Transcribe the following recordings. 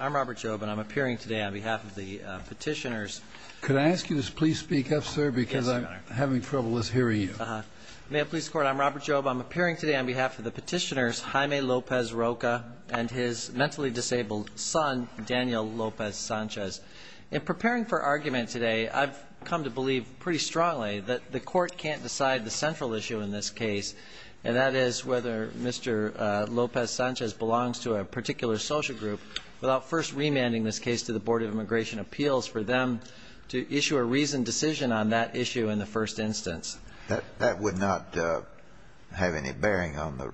Robert Jobin, I'm appearing today on behalf of the petitioners. Could I ask you to please speak up, sir? Because I'm having trouble hearing you. May it please the Court? I'm Robert Jobin. I'm appearing today on behalf of the petitioners, Jaime Lopez-Roca and his mentally disabled son, Daniel Lopez-Sanchez. In preparing for argument today, I've come to believe pretty strongly that the Court can't decide the central issue in this case, and that is whether Mr. Lopez-Sanchez belongs to a particular social group without first remanding this case to the Board of Immigration Appeals for them to issue a reasoned decision on that issue in the first instance. That would not have any bearing on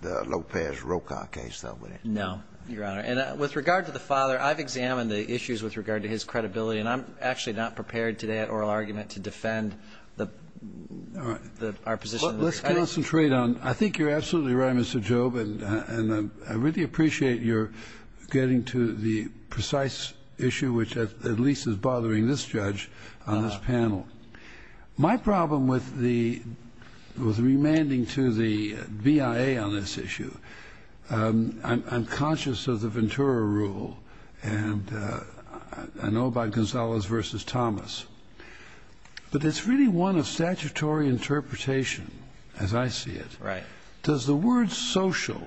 the Lopez-Roca case, though, would it? No, Your Honor. And with regard to the father, I've examined the issues with regard to his credibility, and I'm actually not prepared today at oral argument to defend the opposition. Let's concentrate on the other. I think you're absolutely right, Mr. Jobin, and I really appreciate your getting to the precise issue, which at least is bothering this judge on this panel. My problem with the remanding to the BIA on this issue, I'm conscious of the Ventura rule, and I know about Gonzalez v. Thomas, but it's really one of statutory interpretation, as I see it. Does the word social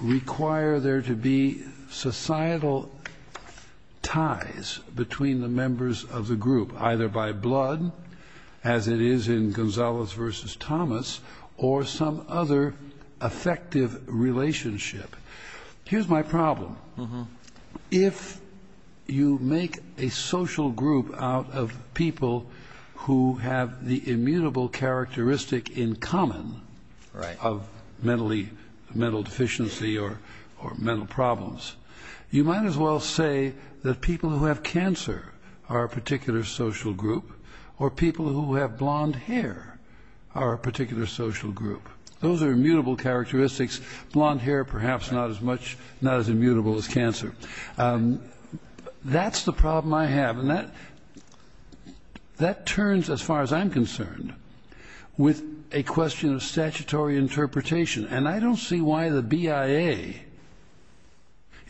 require there to be societal ties between the members of the group, either by blood, as it is in Gonzalez v. Thomas, or some other affective relationship? Here's my problem. If you make a social group out of people who have the immutable characteristic in common of mental deficiency or mental problems, you might as well say that people who have cancer are a particular social group, or people who have blonde hair are a particular social group. Those are immutable characteristics, blonde hair perhaps not as immutable as cancer. That's the problem I have, and that turns, as far as I'm concerned, with a question of statutory interpretation, and I don't see why the BIA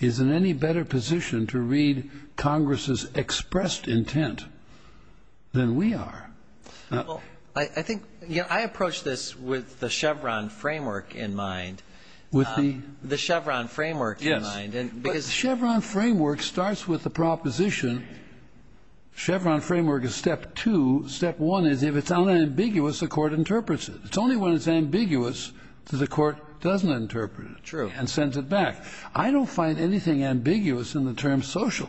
is in any better position to read Congress's expressed intent than we are. I think, you know, I approach this with the Chevron framework in mind. With the? The Chevron framework. Yes. But Chevron framework starts with the proposition, Chevron framework is step two. Step one is if it's unambiguous, the court interprets it. It's only when it's ambiguous that the court doesn't interpret it and sends it back. I don't find anything ambiguous in the term social.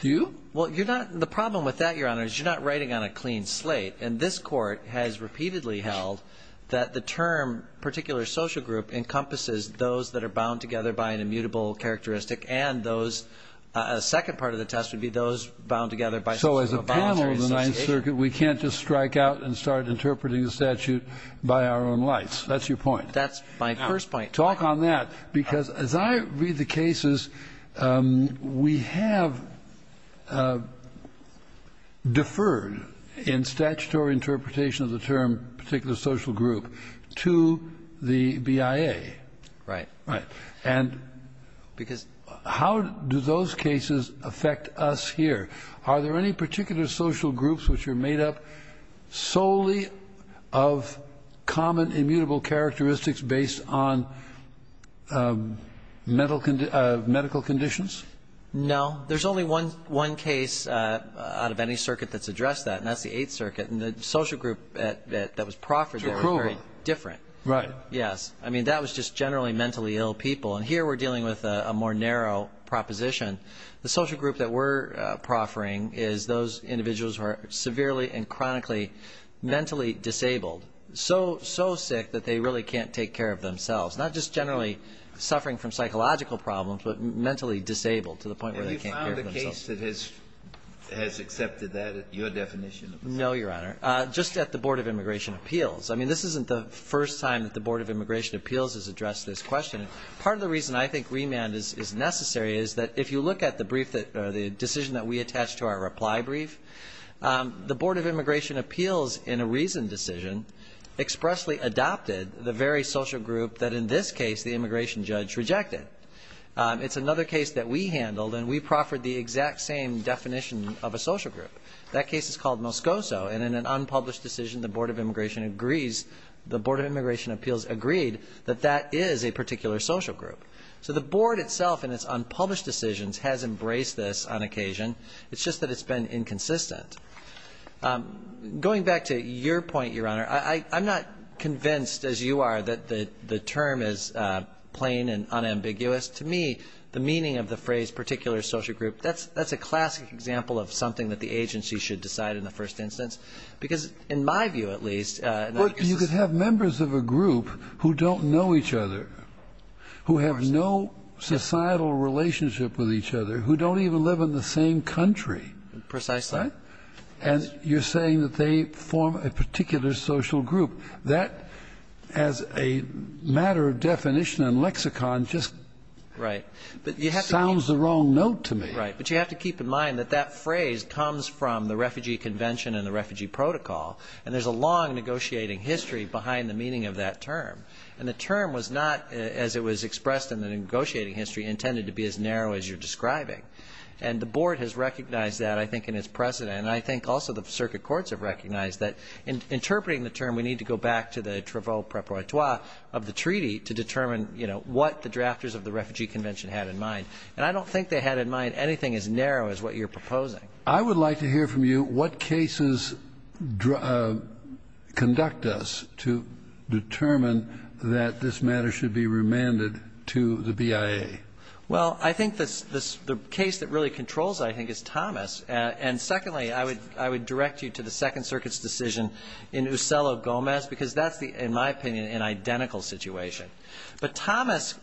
Do you? Well, you're not, the problem with that, Your Honor, is you're not writing on a clean slate, and this court has repeatedly held that the term particular social group encompasses those that are bound together by an immutable characteristic, and those, a second part of the test would be those bound together by some sort of a voluntary association. So as a panel of the Ninth Circuit, we can't just strike out and start interpreting the statute by our own lights. That's your point. That's my first point. Talk on that, because as I read the cases, we have deferred in statutory interpretation of the term particular social group to the BIA. Right. Right. And because how do those cases affect us here? Are there any particular social groups which are made up solely of common immutable characteristics based on medical conditions? No. There's only one case out of any circuit that's addressed that, and that's the Eighth Circuit. And the social group that was proffered there was very different. To approval. Right. Yes. I mean, that was just generally mentally ill people. And here we're dealing with a more narrow proposition. The social group that we're proffering is those individuals who are severely and chronically mentally disabled, so sick that they really can't take care of themselves, not just generally suffering from psychological problems, but mentally disabled to the point where they can't care for themselves. Have you found a case that has accepted that, your definition? No, Your Honor. Just at the Board of Immigration Appeals. I mean, this isn't the first time that the Board of Immigration Appeals has addressed this question. Part of the reason I think remand is necessary is that if you look at the decision that we decision expressly adopted the very social group that, in this case, the immigration judge rejected. It's another case that we handled, and we proffered the exact same definition of a social group. That case is called Moscoso, and in an unpublished decision, the Board of Immigration Appeals agreed that that is a particular social group. So the Board itself, in its unpublished decisions, has embraced this on occasion. It's just that it's been inconsistent. Going back to your point, Your Honor, I'm not convinced, as you are, that the term is plain and unambiguous. To me, the meaning of the phrase particular social group, that's a classic example of something that the agency should decide in the first instance. Because in my view, at least, Well, you could have members of a group who don't know each other, who have no societal relationship with each other, who don't even live in the same country. Precisely. And you're saying that they form a particular social group. That, as a matter of definition and lexicon, just sounds the wrong note to me. Right. But you have to keep in mind that that phrase comes from the Refugee Convention and the Refugee Protocol, and there's a long negotiating history behind the meaning of that term. And the term was not, as it was expressed in the negotiating history, intended to be as narrow as you're describing. And the board has recognized that, I think, in its precedent. And I think also the circuit courts have recognized that in interpreting the term, we need to go back to the travaux préperatoire of the treaty to determine, you know, what the drafters of the Refugee Convention had in mind. And I don't think they had in mind anything as narrow as what you're proposing. I would like to hear from you what cases conduct us to determine that this matter should be remanded to the BIA. Well, I think the case that really controls it, I think, is Thomas. And secondly, I would direct you to the Second Circuit's decision in Uselo-Gomez, because that's, in my opinion, an identical situation. But Thomas,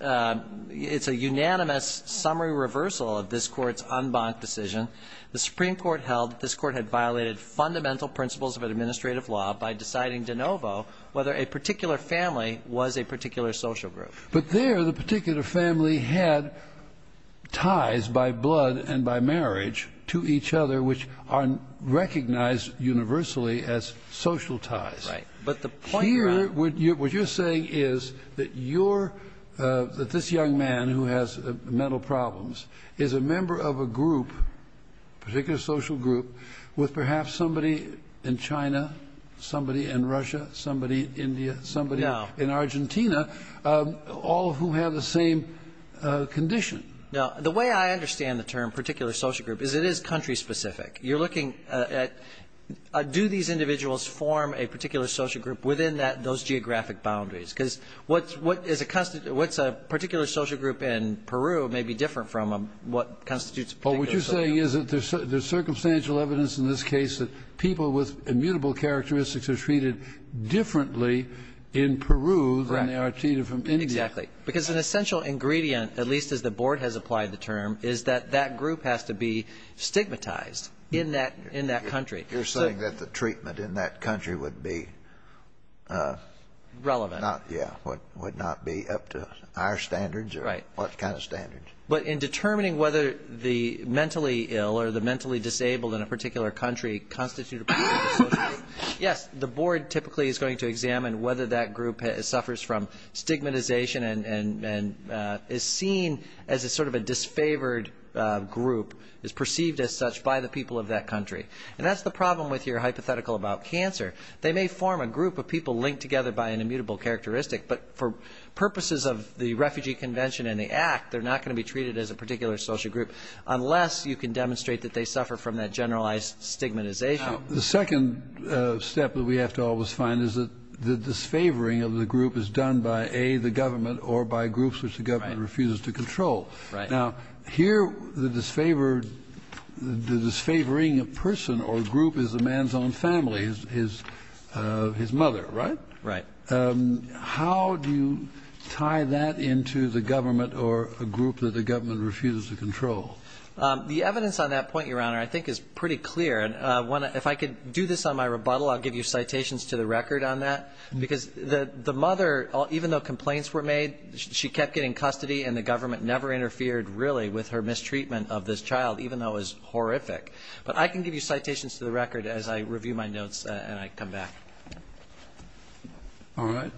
it's a unanimous summary reversal of this court's en banc decision. The Supreme Court held that this court had violated fundamental principles of administrative law by deciding de novo whether a particular family was a particular social group. But there, the particular family had ties by blood and by marriage to each other, which are recognized universally as social ties. Right. But the point here, what you're saying is that this young man who has mental problems is a member of a group, a particular social group, with perhaps somebody in China, somebody in Russia, somebody in India, somebody in Argentina, all who have the same condition. Now, the way I understand the term particular social group is it is country specific. You're looking at, do these individuals form a particular social group within those geographic boundaries? Because what's a particular social group in Peru may be different from what constitutes a particular social group. Well, what you're saying is that there's circumstantial evidence in this case that people with immutable characteristics are treated differently in Peru than they are treated from India. Exactly. Because an essential ingredient, at least as the Board has applied the term, is that that group has to be stigmatized in that country. You're saying that the treatment in that country would be not relevant. Yeah. Would not be up to our standards or what kind of standards. But in determining whether the mentally ill or the mentally disabled in a particular country constitute a particular social group, yes, the Board typically is going to examine whether that group suffers from stigmatization and is seen as a sort of a disfavored group, is perceived as such by the people of that country. And that's the problem with your hypothetical about cancer. They may form a group of people linked together by an immutable characteristic, but for purposes of the Refugee Convention and the Act, they're not going to be treated as a particular social group unless you can demonstrate that they suffer from that generalized stigmatization. The second step that we have to always find is that the disfavoring of the group is done by, A, the government or by groups which the government refuses to control. Now, here, the disfavored, the disfavoring of person or group is a man's own family, is his mother, right? Right. How do you tie that into the government or a group that the government refuses to control? The evidence on that point, Your Honor, I think is pretty clear. And if I could do this on my rebuttal, I'll give you citations to the record on that. Because the mother, even though complaints were made, she kept getting custody and the government never interfered, really, with her mistreatment of this child, even though it was horrific. But I can give you citations to the record as I review my notes and I come back. All right.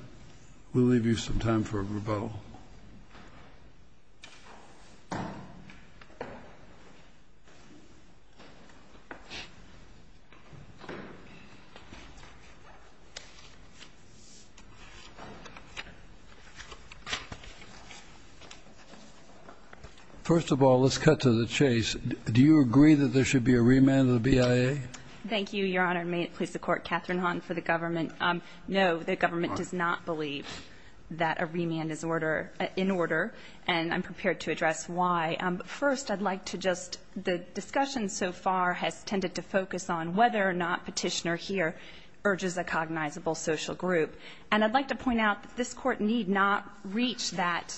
We'll leave you some time for a rebuttal. First of all, let's cut to the chase. Do you agree that there should be a remand of the BIA? Thank you, Your Honor. May it please the Court. Catherine Hahn for the government. No, the government does not believe that a remand is order, in order, and I'm prepared to address why. First, I'd like to just the discussion so far has tended to focus on whether or not Petitioner here urges a cognizable social group. And I'd like to point out that this Court need not reach that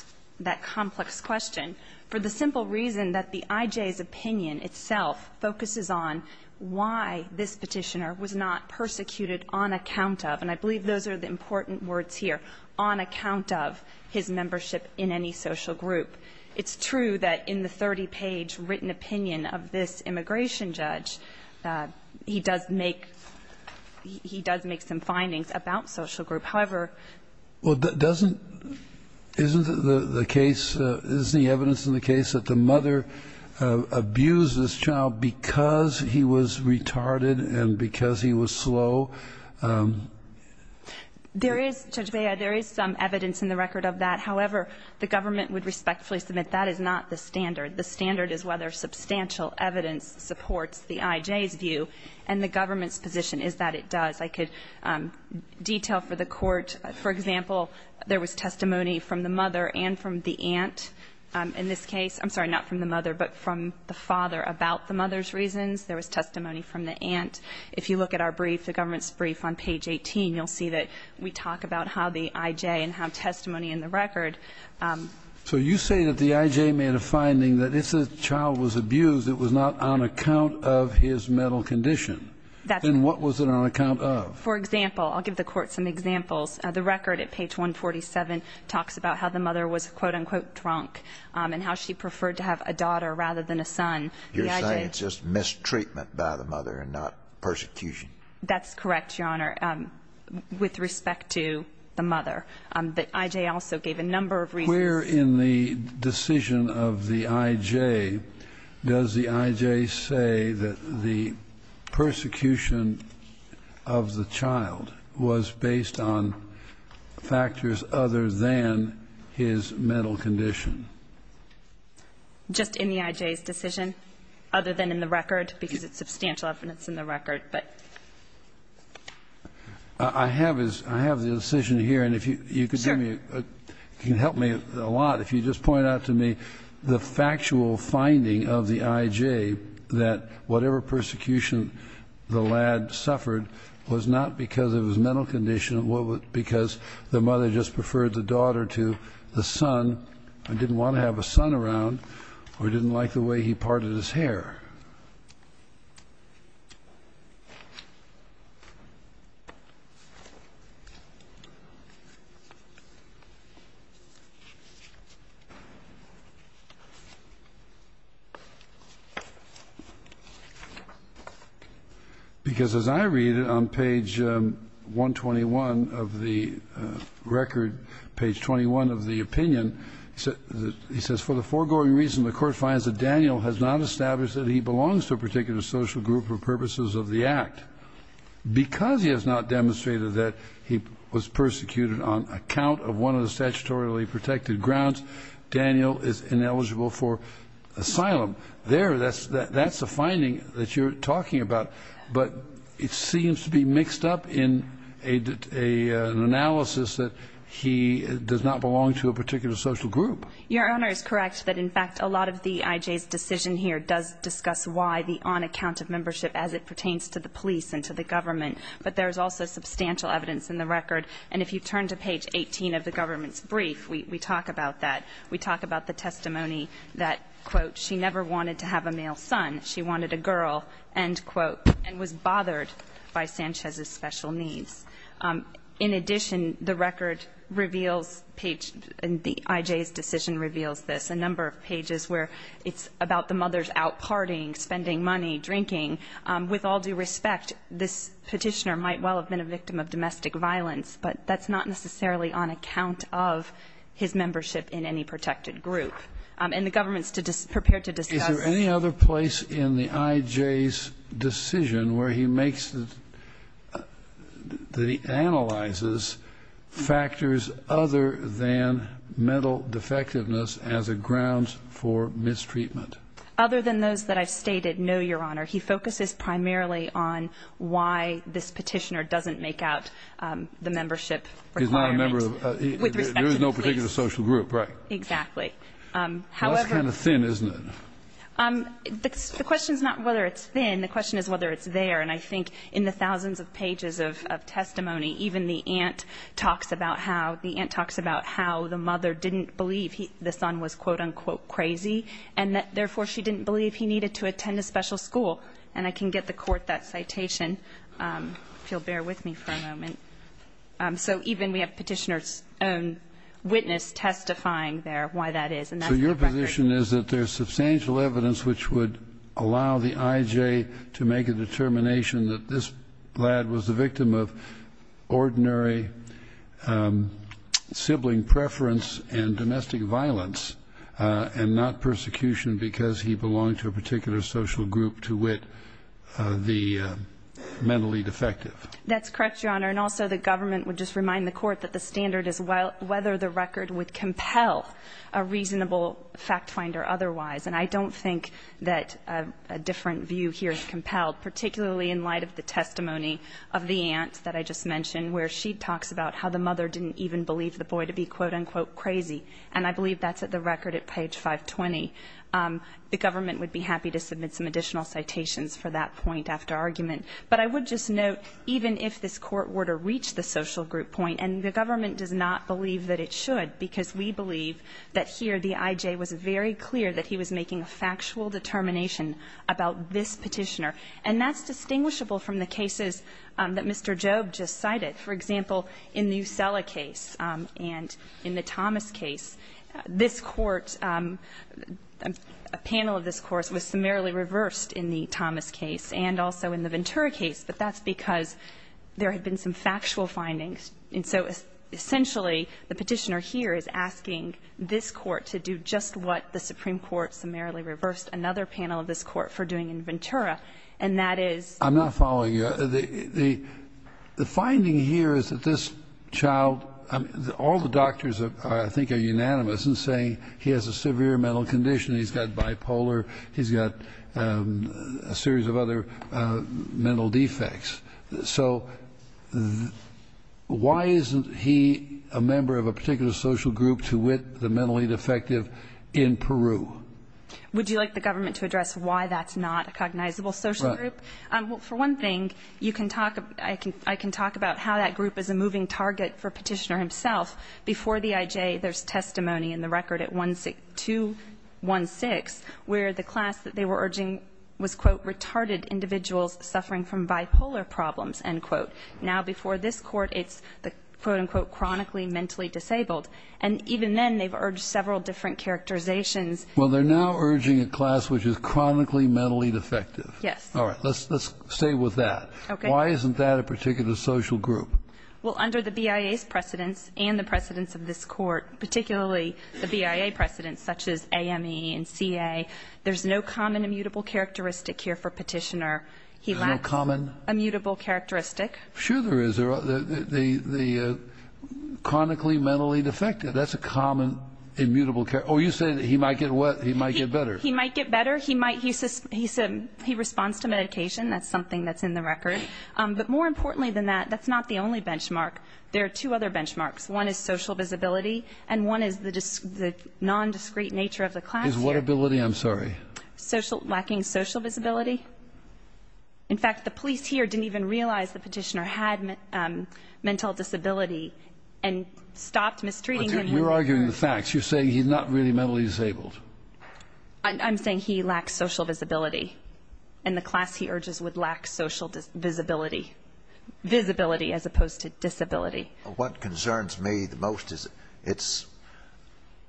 complex question for the simple reason that the IJ's opinion itself focuses on why this Petitioner was not persecuted on account of, and I believe those are the important words here, on account of his membership in any social group. It's true that in the 30-page written opinion of this immigration judge, he does make, he does make some findings about social group. However. Well, doesn't, isn't the case, is the evidence in the case that the mother abused this child because he was retarded and because he was slow? There is, Judge Bea, there is some evidence in the record of that. However, the government would respectfully submit that is not the standard. The standard is whether substantial evidence supports the IJ's view and the government's position is that it does. I could detail for the Court, for example, there was testimony from the mother and from the aunt in this case. I'm sorry, not from the mother, but from the father about the mother's reasons. There was testimony from the aunt. If you look at our brief, the government's brief on page 18, you'll see that we talk about how the IJ and how testimony in the record. So you say that the IJ made a finding that if the child was abused, it was not on account of his mental condition. That then what was it on account of? For example, I'll give the court some examples of the record at page 147 talks about how the mother was quote unquote drunk and how she preferred to have a daughter rather than a son. You're saying it's just mistreatment by the mother and not persecution. That's correct, Your Honor. With respect to the mother, the IJ also gave a number of reasons. Where in the decision of the IJ does the IJ say that the persecution of the child was based on factors other than his mental condition? Just in the IJ's decision, other than in the record, because it's substantial evidence in the record. But I have is I have the decision here. And if you could help me a lot, if you just point out to me the factual finding of the IJ that whatever persecution the lad suffered was not because of his mental condition, but because the mother just preferred the daughter to the son and didn't want to have a son around or didn't like the way he parted his hair. Because, as I read it on page 121 of the record, page 21 of the opinion, he says, for the foregoing reason the Court finds that Daniel has not established that he belongs to a particular social group for purposes of the act. Because he has not demonstrated that he was persecuted on account of one of the statutorily protected grounds, Daniel is ineligible for asylum. There, that's the finding that you're talking about. But it seems to be mixed up in an analysis that he does not belong to a particular social group. Your Honor, it's correct that, in fact, a lot of the IJ's decision here does discuss why the on-account of membership as it pertains to the police and to the government. But there is also substantial evidence in the record. And if you turn to page 18 of the government's brief, we talk about that. We talk about the testimony that, quote, she never wanted to have a male son. She wanted a girl, end quote, and was bothered by Sanchez's special needs. In addition, the record reveals page and the IJ's decision reveals this, a number of pages where it's about the mother's out partying, spending money, drinking. With all due respect, this petitioner might well have been a victim of domestic violence, but that's not necessarily on account of his membership in any protected group. And the government's prepared to discuss it. Is there any other place in the IJ's decision where he makes, that he analyzes factors other than mental defectiveness as a grounds for mistreatment? Other than those that I've stated, no, Your Honor. He focuses primarily on why this petitioner doesn't make out the membership requirements. He's not a member of the, there is no particular social group, right? Exactly. That's kind of thin, isn't it? The question's not whether it's thin, the question is whether it's there. And I think in the thousands of pages of testimony, even the aunt talks about how the mother didn't believe the son was, quote, unquote, crazy, and that therefore she didn't believe he needed to attend a special school. And I can get the court that citation, if you'll bear with me for a moment. So even we have petitioner's own witness testifying there why that is. So your position is that there's substantial evidence which would allow the IJ to make a determination that this lad was the victim of ordinary sibling preference and domestic violence and not persecution because he belonged to a particular social group to wit the mentally defective. That's correct, Your Honor. And also the government would just remind the court that the standard is whether the record would compel a reasonable fact finder otherwise. And I don't think that a different view here is compelled, particularly in light of the testimony of the aunt that I just mentioned where she talks about how the mother didn't even believe the boy to be, quote, unquote, crazy. And I believe that's at the record at page 520. The government would be happy to submit some additional citations for that point after argument. But I would just note even if this court were to reach the social group point, and the government does not believe that it should because we believe that here the IJ was very clear that he was making a factual determination about this petitioner. And that's distinguishable from the cases that Mr. Jobe just cited. For example, in the Usela case and in the Thomas case, this court, a panel of this course was summarily reversed in the Thomas case and also in the Ventura case, but that's because there had been some factual findings. And so essentially, the petitioner here is asking this court to do just what the Supreme Court summarily reversed another panel of this court for doing in Ventura. And that is- I'm not following you. The finding here is that this child, all the doctors, I think, are unanimous in saying he has a severe mental condition. He's got bipolar. He's got a series of other mental defects. So why isn't he a member of a particular social group to wit the mentally defective in Peru? Would you like the government to address why that's not a cognizable social group? For one thing, I can talk about how that group is a moving target for petitioner himself. Before the IJ, there's testimony in the record at 216 where the class that they were urging was, quote, retarded individuals suffering from bipolar problems, end quote. Now before this court, it's the, quote unquote, chronically mentally disabled. And even then, they've urged several different characterizations. Well, they're now urging a class which is chronically mentally defective. Yes. All right, let's stay with that. Okay. Why isn't that a particular social group? Well, under the BIA's precedence and the precedence of this court, particularly the BIA precedence, such as AME and CA, there's no common immutable characteristic here for petitioner. He lacks- There's no common- Immutable characteristic. Sure there is. They're chronically mentally defective. That's a common immutable characteristic. Oh, you said he might get better. He might get better. He might, he responds to medication. That's something that's in the record. But more importantly than that, that's not the only benchmark. There are two other benchmarks. One is social visibility, and one is the non-discrete nature of the class. Is what ability, I'm sorry? Lacking social visibility. In fact, the police here didn't even realize the petitioner had mental disability and stopped mistreating him. You're arguing the facts. You're saying he's not really mentally disabled. I'm saying he lacks social visibility. And the class, he urges, would lack social visibility. Visibility as opposed to disability. What concerns me the most is it's,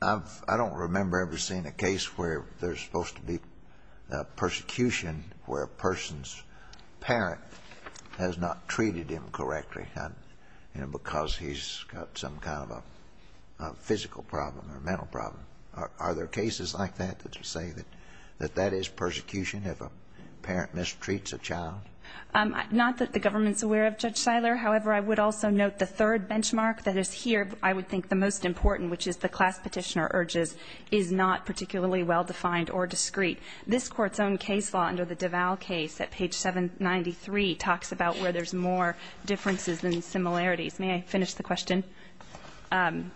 I've, I don't remember ever seeing a case where there's supposed to be persecution where a person's parent has not treated him correctly. And because he's got some kind of a physical problem or mental problem. Are there cases like that that say that that is persecution if a parent mistreats a child? Not that the government's aware of, Judge Siler. However, I would also note the third benchmark that is here, I would think the most important, which is the class petitioner urges, is not particularly well-defined or discreet. This Court's own case law under the Deval case at page 793 talks about where there's more differences than similarities. May I finish the question? And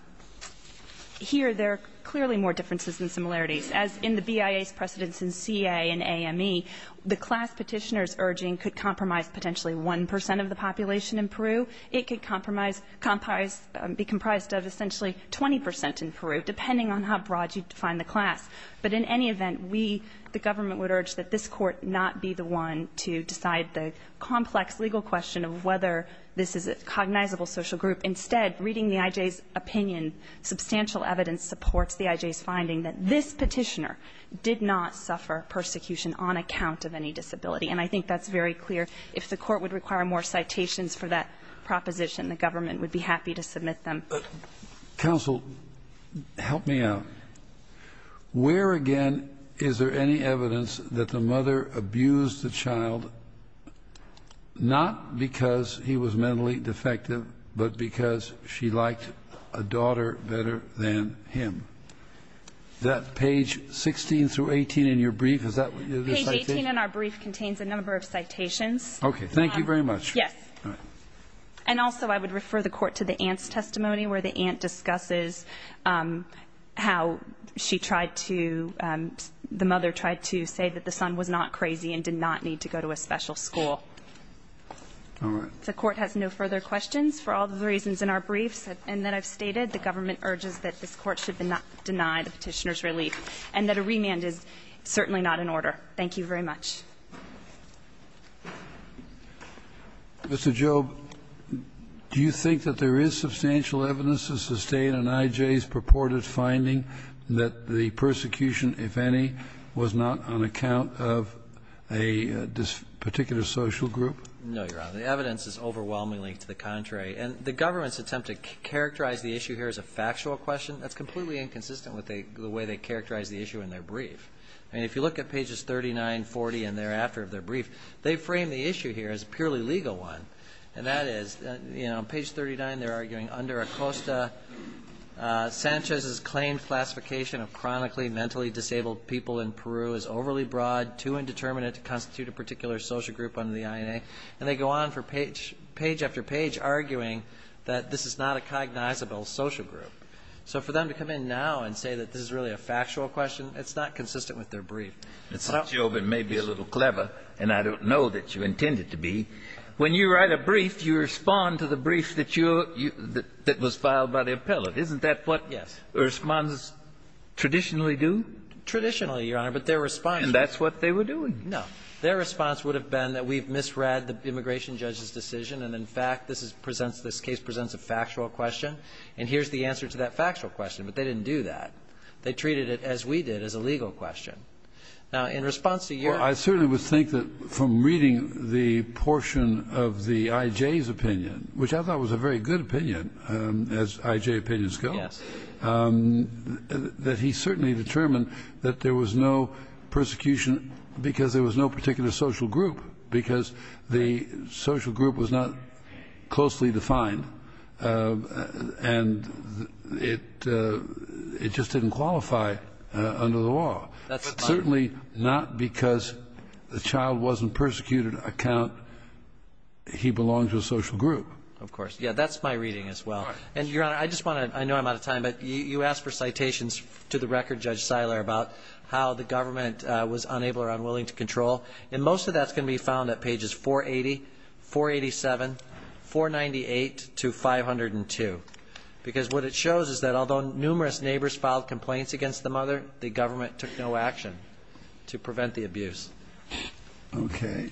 here, there are clearly more differences than similarities. As in the BIA's precedence in CA and AME, the class petitioner's urging could compromise potentially 1% of the population in Peru. It could compromise, be comprised of essentially 20% in Peru, depending on how broad you define the class. But in any event, we, the government, would urge that this Court not be the one to decide the complex legal question of whether this is a cognizable social group. Instead, reading the IJ's opinion, substantial evidence supports the IJ's finding that this petitioner did not suffer persecution on account of any disability. And I think that's very clear. If the Court would require more citations for that proposition, the government would be happy to submit them. Counsel, help me out. Where, again, is there any evidence that the mother abused the child, not because he was mentally defective, but because she liked a daughter better than him? Is that page 16 through 18 in your brief? Is that what you're citing? Page 18 in our brief contains a number of citations. Okay. Thank you very much. Yes. And also, I would refer the Court to the aunt's testimony, where the aunt discusses how she tried to, the mother tried to say that the son was not crazy and did not need to go to a special school. All right. The Court has no further questions for all the reasons in our briefs. And that I've stated, the government urges that this Court should not deny the petitioner's relief, and that a remand is certainly not in order. Thank you very much. Mr. Jobe, do you think that there is substantial evidence to sustain an IJ's proposal that the prosecution, if any, was not on account of a particular social group? No, Your Honor. The evidence is overwhelmingly to the contrary. And the government's attempt to characterize the issue here as a factual question, that's completely inconsistent with the way they characterize the issue in their brief. I mean, if you look at pages 39, 40, and thereafter of their brief, they frame the issue here as a purely legal one, and that is, you know, on page 39, they're saying that Sanchez's claimed classification of chronically mentally disabled people in Peru is overly broad, too indeterminate to constitute a particular social group under the INA, and they go on for page after page arguing that this is not a cognizable social group. So for them to come in now and say that this is really a factual question, it's not consistent with their brief. Mr. Jobe, it may be a little clever, and I don't know that you intend it to be. When you write a brief, you respond to the brief that was filed by the appellate. Isn't that what the respondents traditionally do? Traditionally, Your Honor, but their response was that's what they were doing. No. Their response would have been that we've misread the immigration judge's decision, and, in fact, this presents the case presents a factual question, and here's the answer to that factual question, but they didn't do that. They treated it, as we did, as a legal question. Now, in response to your question, I certainly would think that from reading the portion of the I.J.'s opinion, which I thought was a very good opinion, as I.J. opinions go, that he certainly determined that there was no persecution because there was no particular social group, because the social group was not closely defined, and it just didn't qualify under the law, certainly not because the child wasn't persecuted, I cannot He belongs to a social group. Of course. Yeah, that's my reading as well, and, Your Honor, I just want to, I know I'm out of time, but you asked for citations to the record, Judge Siler, about how the government was unable or unwilling to control, and most of that's going to be found at pages 480, 487, 498 to 502, because what it shows is that although numerous neighbors filed complaints against the mother, the government took no action to prevent the abuse. Okay.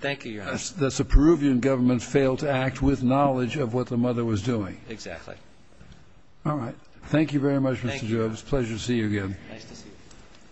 Thank you, Your Honor. That's the Peruvian government failed to act with knowledge of what the mother was doing. Exactly. All right. Thank you very much, Mr. Jobs. Thank you. Pleasure to see you again.